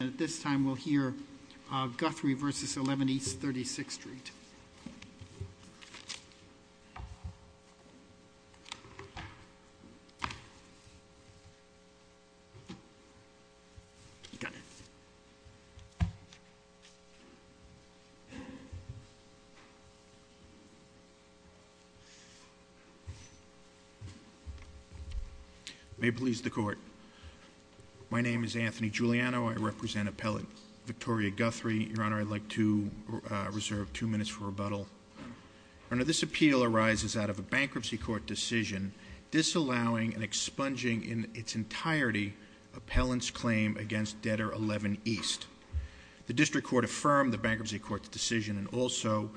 And at this time, we'll hear Guthrie versus 11 East 36th Street. May it please the court. My name is Anthony Giuliano. I represent appellant Victoria Guthrie. Your Honor, I'd like to reserve two minutes for rebuttal. Your Honor, this appeal arises out of a bankruptcy court decision disallowing and expunging in its entirety appellant's claim against debtor 11 East. The district court affirmed the bankruptcy court's decision and also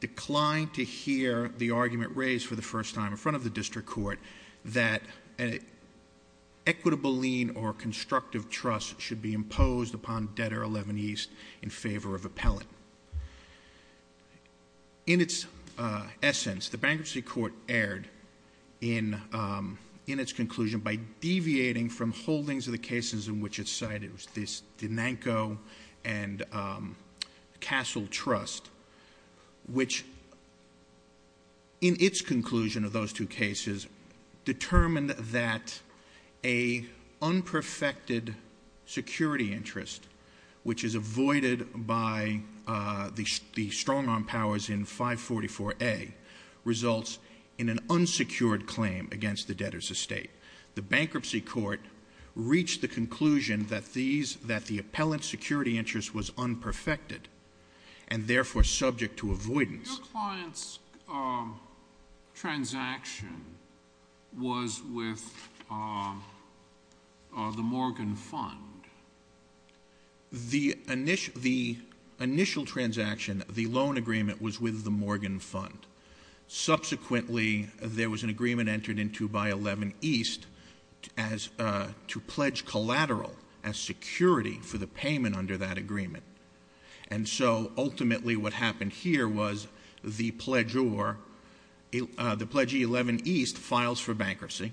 declined to hear the argument raised for the first time in front of the district court that an equitable lien or constructive trust should be imposed upon debtor 11 East in favor of appellant. In its essence, the bankruptcy court erred in its conclusion by deviating from holdings of the cases in which it's cited. It was this Denanco and Castle Trust, which in its conclusion of those two cases, determined that a unperfected security interest, which is avoided by the strong arm powers in 544A, results in an unsecured claim against the debtor's estate. The bankruptcy court reached the conclusion that the appellant's security interest was unperfected. And therefore, subject to avoidance. Your client's transaction was with the Morgan Fund. The initial transaction, the loan agreement, was with the Morgan Fund. Subsequently, there was an agreement entered into by 11 East to pledge collateral as security for the payment under that agreement. And so, ultimately, what happened here was the pledger, the pledge 11 East, files for bankruptcy.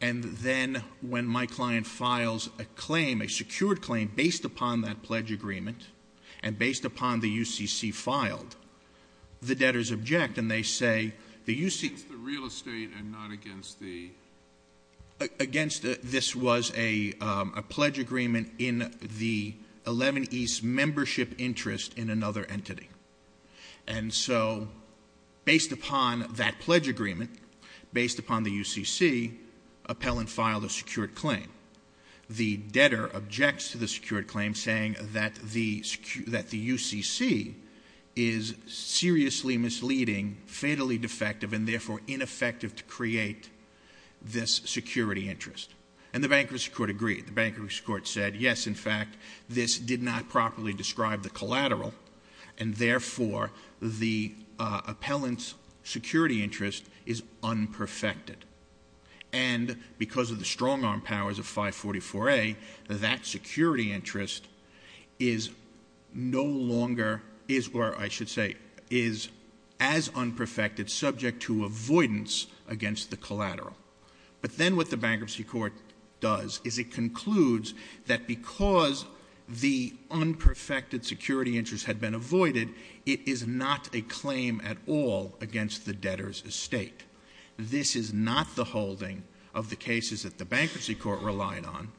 And then, when my client files a claim, a secured claim, based upon that pledge agreement and based upon the UCC filed, the debtors object and they say, the UCC- And so, based upon that pledge agreement, based upon the UCC, appellant filed a secured claim. The debtor objects to the secured claim saying that the UCC is seriously misleading, fatally defective, and therefore ineffective to create this security interest. And the bankruptcy court agreed. The bankruptcy court said, yes, in fact, this did not properly describe the collateral. And therefore, the appellant's security interest is unperfected. And because of the strong arm powers of 544A, that security interest is no longer, or I should say, is as unperfected subject to avoidance against the collateral. But then, what the bankruptcy court does is it concludes that because the unperfected security interest had been avoided, it is not a claim at all against the debtor's estate. This is not the holding of the cases that the bankruptcy court relied on.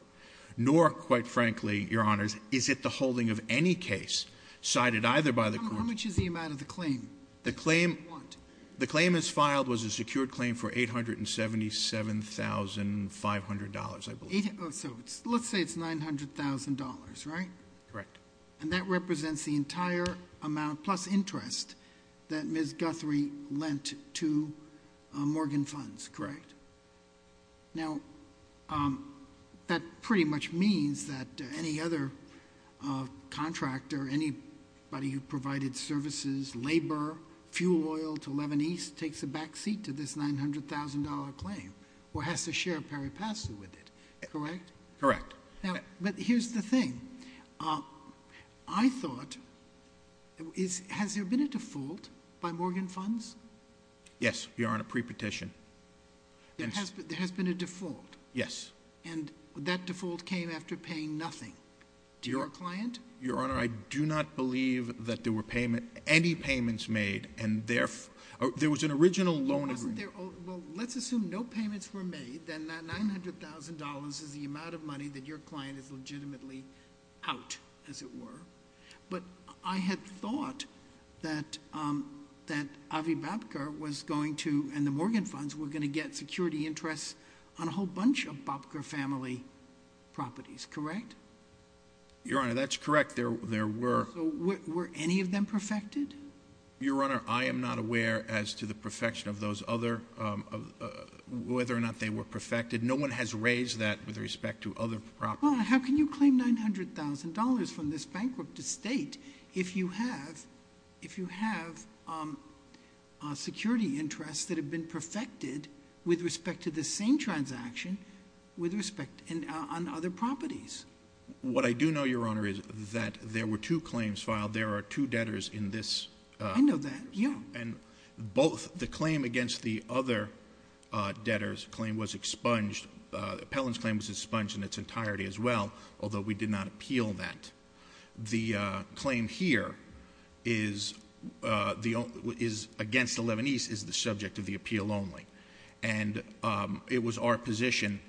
Nor, quite frankly, your honors, is it the holding of any case cited either by the- How much is the amount of the claim? The claim- How much? The claim as filed was a secured claim for $877,500, I believe. So, let's say it's $900,000, right? Correct. And that represents the entire amount plus interest that Ms. Guthrie lent to Morgan Funds, correct? Now, that pretty much means that any other contractor, anybody who provided services, labor, fuel oil to Leaven East, takes a back seat to this $900,000 claim or has to share a peripatsy with it, correct? Correct. Now, but here's the thing, I thought, has there been a default by Morgan Funds? Yes, your honor, pre-petition. There has been a default? Yes. And that default came after paying nothing to your client? Your honor, I do not believe that there were payment, any payments made, and therefore, there was an original loan agreement. But wasn't there, well, let's assume no payments were made, then that $900,000 is the amount of money that your client is legitimately out, as it were. But I had thought that Avi Babker was going to, and the Morgan Funds were going to get security interests on a whole bunch of Babker family properties, correct? Your honor, that's correct, there were. So were any of them perfected? Your honor, I am not aware as to the perfection of those other, whether or not they were perfected. No one has raised that with respect to other properties. Well, how can you claim $900,000 from this bankrupt estate if you have security interests that have been perfected with respect to the same transaction on other properties? What I do know, your honor, is that there were two claims filed. There are two debtors in this- I know that, yeah. And both the claim against the other debtors claim was expunged. The appellant's claim was expunged in its entirety as well, although we did not appeal that. The claim here is against the Lebanese, is the subject of the appeal only. And it was our position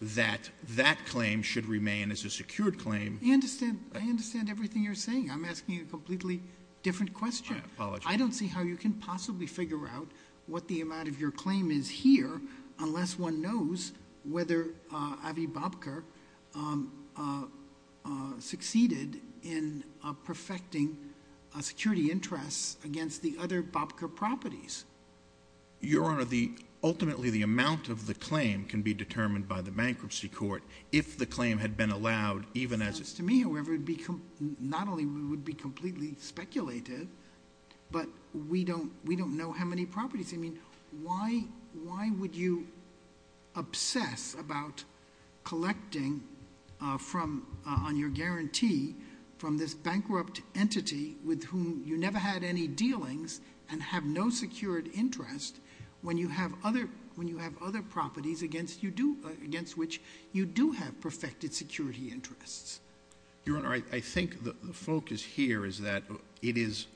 that that claim should remain as a secured claim. I understand everything you're saying. I'm asking a completely different question. I apologize. I don't see how you can possibly figure out what the amount of your claim is here unless one knows whether Avi Babker succeeded in perfecting security interests against the other Babker properties. Your honor, ultimately the amount of the claim can be determined by the bankruptcy court. If the claim had been allowed, even as- It sounds to me, however, not only would it be completely speculative, but we don't know how many properties. I mean, why would you obsess about collecting on your guarantee from this bankrupt entity with whom you never had any dealings and have no secured interest when you have other properties against which you do have perfected security interests? Your honor, I think the focus here is that it is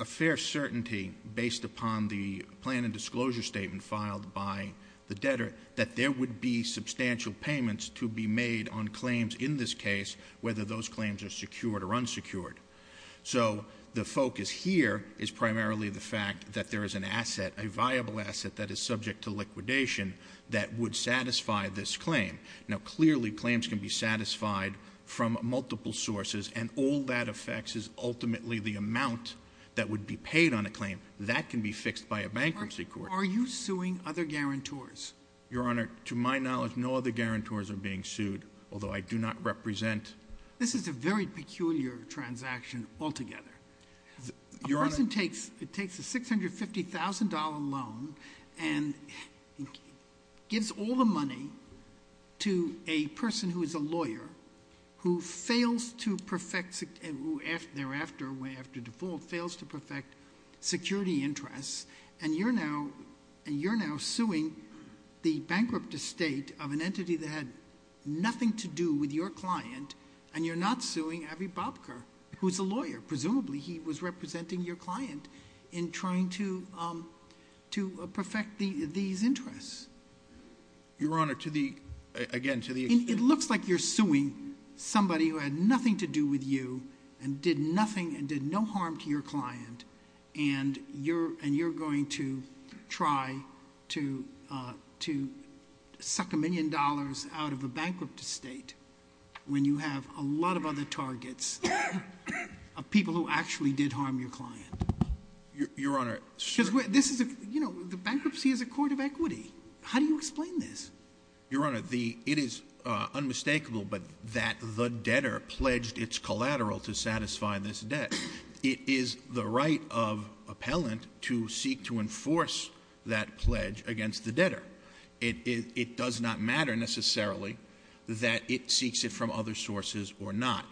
a fair certainty based upon the plan and disclosure statement filed by the debtor that there would be substantial payments to be made on claims in this case. Whether those claims are secured or unsecured. So the focus here is primarily the fact that there is an asset, a viable asset that is subject to liquidation that would satisfy this claim. Now clearly, claims can be satisfied from multiple sources and all that affects is ultimately the amount that would be paid on a claim. That can be fixed by a bankruptcy court. Are you suing other guarantors? Your honor, to my knowledge, no other guarantors are being sued, although I do not represent- This is a very peculiar transaction altogether. Your honor- A person takes a $650,000 loan and gives all the money to a person who is a lawyer, who fails to perfect, thereafter, after default, fails to perfect security interests. And you're now suing the bankrupt estate of an entity that had nothing to do with your client. And you're not suing Avi Bobker, who's a lawyer. Presumably, he was representing your client in trying to perfect these interests. Your honor, to the, again, to the- It looks like you're suing somebody who had nothing to do with you and did nothing and you're going to try to suck a million dollars out of a bankrupt estate. When you have a lot of other targets of people who actually did harm your client. Your honor- Because this is a, you know, the bankruptcy is a court of equity. How do you explain this? Your honor, it is unmistakable, but that the debtor pledged its collateral to satisfy this debt. It is the right of appellant to seek to enforce that pledge against the debtor. It does not matter, necessarily, that it seeks it from other sources or not.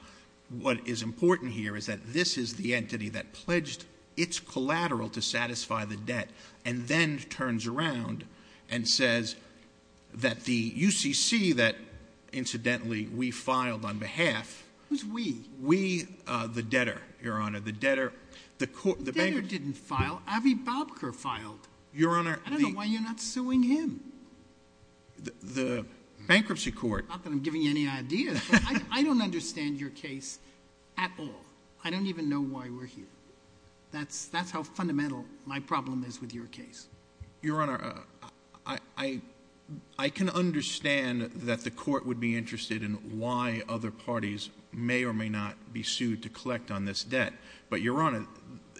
What is important here is that this is the entity that pledged its collateral to satisfy the debt. And then turns around and says that the UCC that, incidentally, we filed on behalf- Who's we? We, the debtor, your honor, the debtor. The court, the bank- The debtor didn't file, Avi Bobker filed. Your honor- I don't know why you're not suing him. The bankruptcy court- Not that I'm giving you any ideas, but I don't understand your case at all. I don't even know why we're here. That's how fundamental my problem is with your case. Your honor, I can understand that the court would be interested in why other parties may or may not be sued to collect on this debt. But your honor,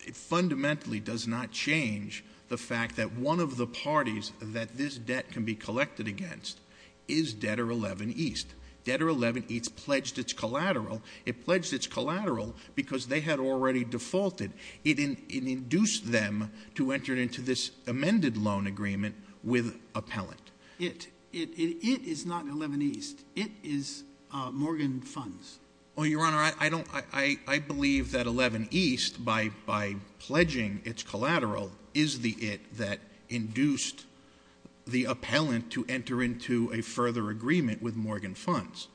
it fundamentally does not change the fact that one of the parties that this debt can be collected against is Debtor 11 East. Debtor 11 East pledged its collateral. It pledged its collateral because they had already defaulted. It induced them to enter into this amended loan agreement with appellant. It, it is not 11 East. It is Morgan Funds. Well, your honor, I believe that 11 East, by pledging its collateral, is the it that induced the appellant to enter into a further agreement with Morgan Funds.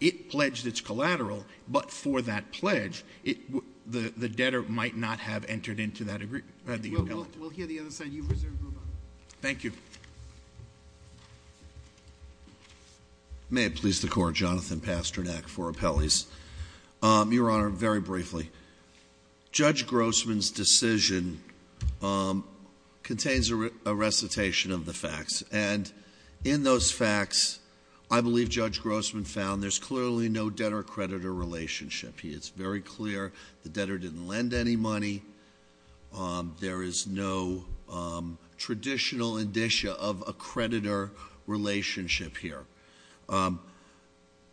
It pledged its collateral, but for that pledge, the debtor might not have entered into that agreement, the appellant. We'll hear the other side. You reserve the room up. Thank you. May it please the court, Jonathan Pasternak for appellees. Your honor, very briefly, Judge Grossman's decision contains a recitation of the facts. And in those facts, I believe Judge Grossman found there's clearly no debtor-creditor relationship. He is very clear the debtor didn't lend any money. There is no traditional indicia of a creditor relationship here.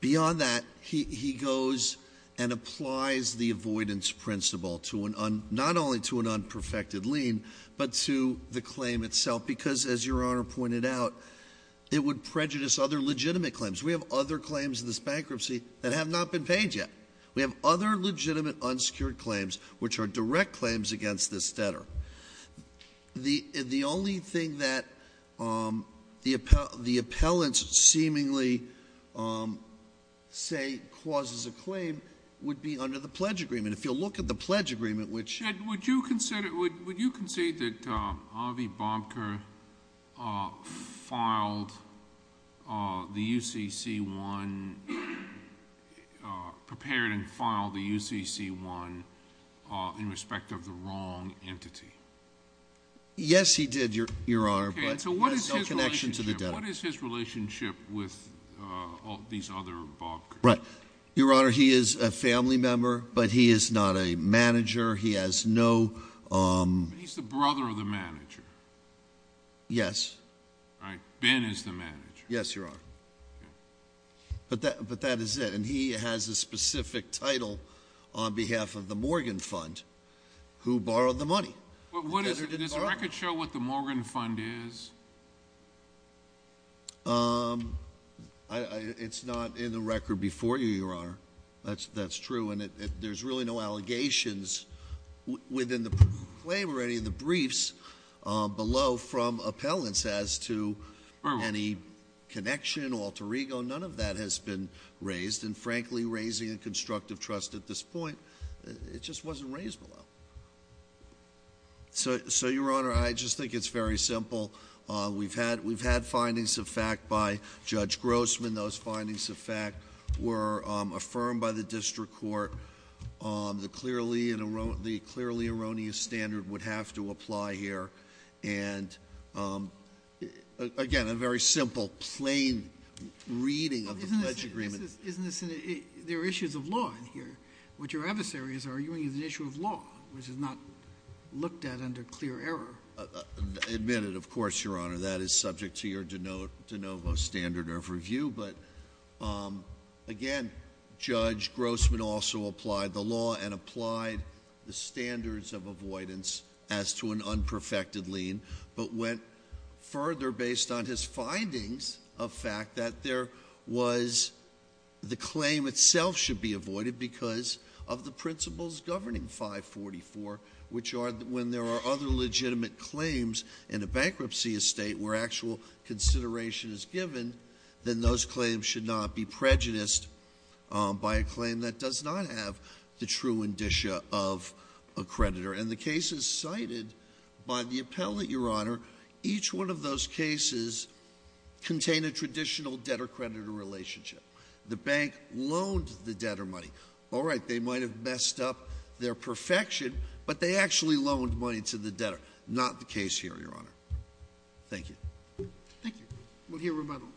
Beyond that, he goes and applies the avoidance principle to an, not only to an unperfected lien, but to the claim itself. Because as your honor pointed out, it would prejudice other legitimate claims. We have other claims in this bankruptcy that have not been paid yet. We have other legitimate unsecured claims, which are direct claims against this debtor. The only thing that the appellants seemingly say causes a claim would be under the pledge agreement. If you'll look at the pledge agreement, which- Would you consider that Avi Bobker filed the UCC1, prepared and filed the UCC1 in respect of the wrong entity? Yes, he did, your honor. But- Okay, so what is his relationship? What is his relationship with these other Bobkers? Right. Your honor, he is a family member, but he is not a manager. He has no- He's the brother of the manager. Yes. All right, Ben is the manager. Yes, your honor. But that is it. And he has a specific title on behalf of the Morgan Fund, who borrowed the money. But what is it? Does the record show what the Morgan Fund is? It's not in the record before you, your honor. That's true. And there's really no allegations within the claim or any of the briefs below from appellants as to any connection, alter ego. None of that has been raised. And frankly, raising a constructive trust at this point, it just wasn't raised below. So your honor, I just think it's very simple. We've had findings of fact by Judge Grossman. And those findings of fact were affirmed by the district court. The clearly erroneous standard would have to apply here. And again, a very simple, plain reading of the pledge agreement. Isn't this, there are issues of law in here. What your adversary is arguing is an issue of law, which is not looked at under clear error. Admit it, of course, your honor. That is subject to your de novo standard of review. But again, Judge Grossman also applied the law and applied the standards of avoidance as to an unperfected lien. But went further based on his findings of fact that there was the claim itself should be avoided because of the principles governing 544, which are when there are other legitimate claims in a bankruptcy estate where actual consideration is given. Then those claims should not be prejudiced by a claim that does not have the true indicia of a creditor. And the cases cited by the appellate, your honor, each one of those cases contain a traditional debtor-creditor relationship. The bank loaned the debtor money. All right, they might have messed up their perfection, but they actually loaned money to the debtor. Not the case here, your honor. Thank you. Thank you. We'll hear rebuttal.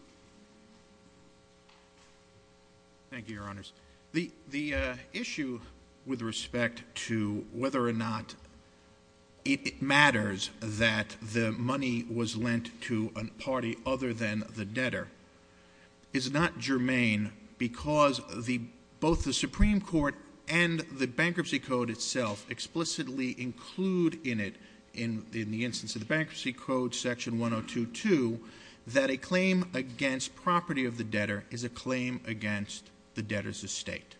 Thank you, your honors. The issue with respect to whether or not it matters that the money was lent to a party other than the debtor is not germane because both the Supreme Court and the Bankruptcy Code itself explicitly include in it, in the instance of the Bankruptcy Code, section 102.2, that a claim against property of the debtor is a claim against the debtor's estate.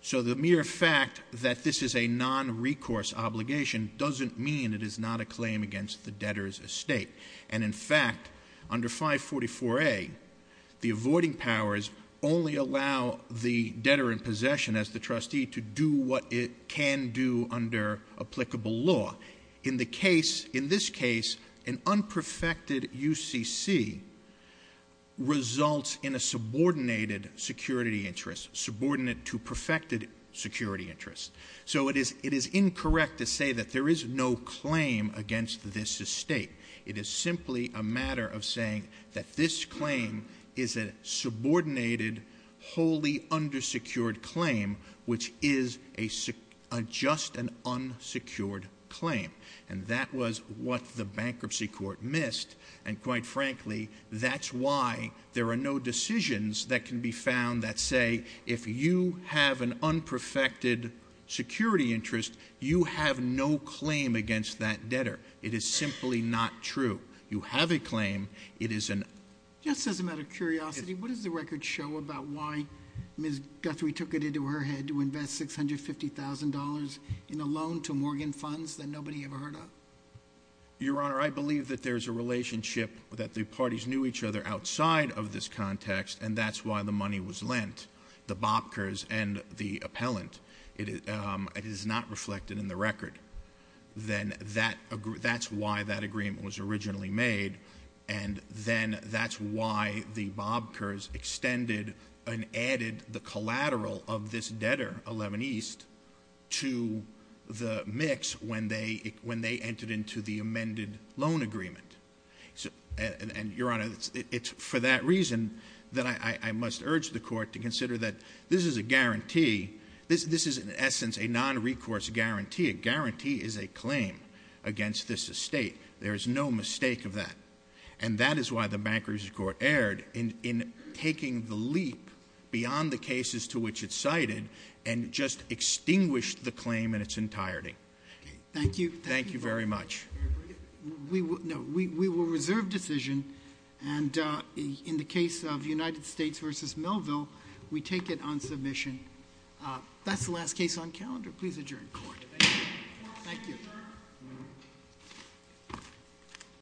So the mere fact that this is a non-recourse obligation doesn't mean it is not a claim against the debtor's estate. And in fact, under 544A, the avoiding powers only allow the debtor in possession as the trustee to do what it can do under applicable law. In this case, an unperfected UCC results in a subordinated security interest, subordinate to perfected security interest. So it is incorrect to say that there is no claim against this estate. It is simply a matter of saying that this claim is a subordinated, wholly undersecured claim, which is just an unsecured claim. And that was what the bankruptcy court missed. And quite frankly, that's why there are no decisions that can be found that say, if you have an unperfected security interest, you have no claim against that debtor. It is simply not true. You have a claim, it is an- Just as a matter of curiosity, what does the record show about why Ms. Guthrie took it into her head to invest $650,000 in a loan to Morgan Funds that nobody ever heard of? Your Honor, I believe that there's a relationship that the parties knew each other outside of this context, and that's why the money was lent. The Bobkers and the appellant, it is not reflected in the record. Then that's why that agreement was originally made. And then that's why the Bobkers extended and added the collateral of this debtor, 11 East, to the mix when they entered into the amended loan agreement. And Your Honor, it's for that reason that I must urge the court to consider that this is a guarantee. A guarantee is a claim against this estate. There is no mistake of that. And that is why the bankruptcy court erred in taking the leap beyond the cases to which it's cited, and just extinguished the claim in its entirety. Thank you. Thank you very much. We will reserve decision, and in the case of United States versus Melville, we take it on submission. That's the last case on calendar. Please adjourn court. Thank you.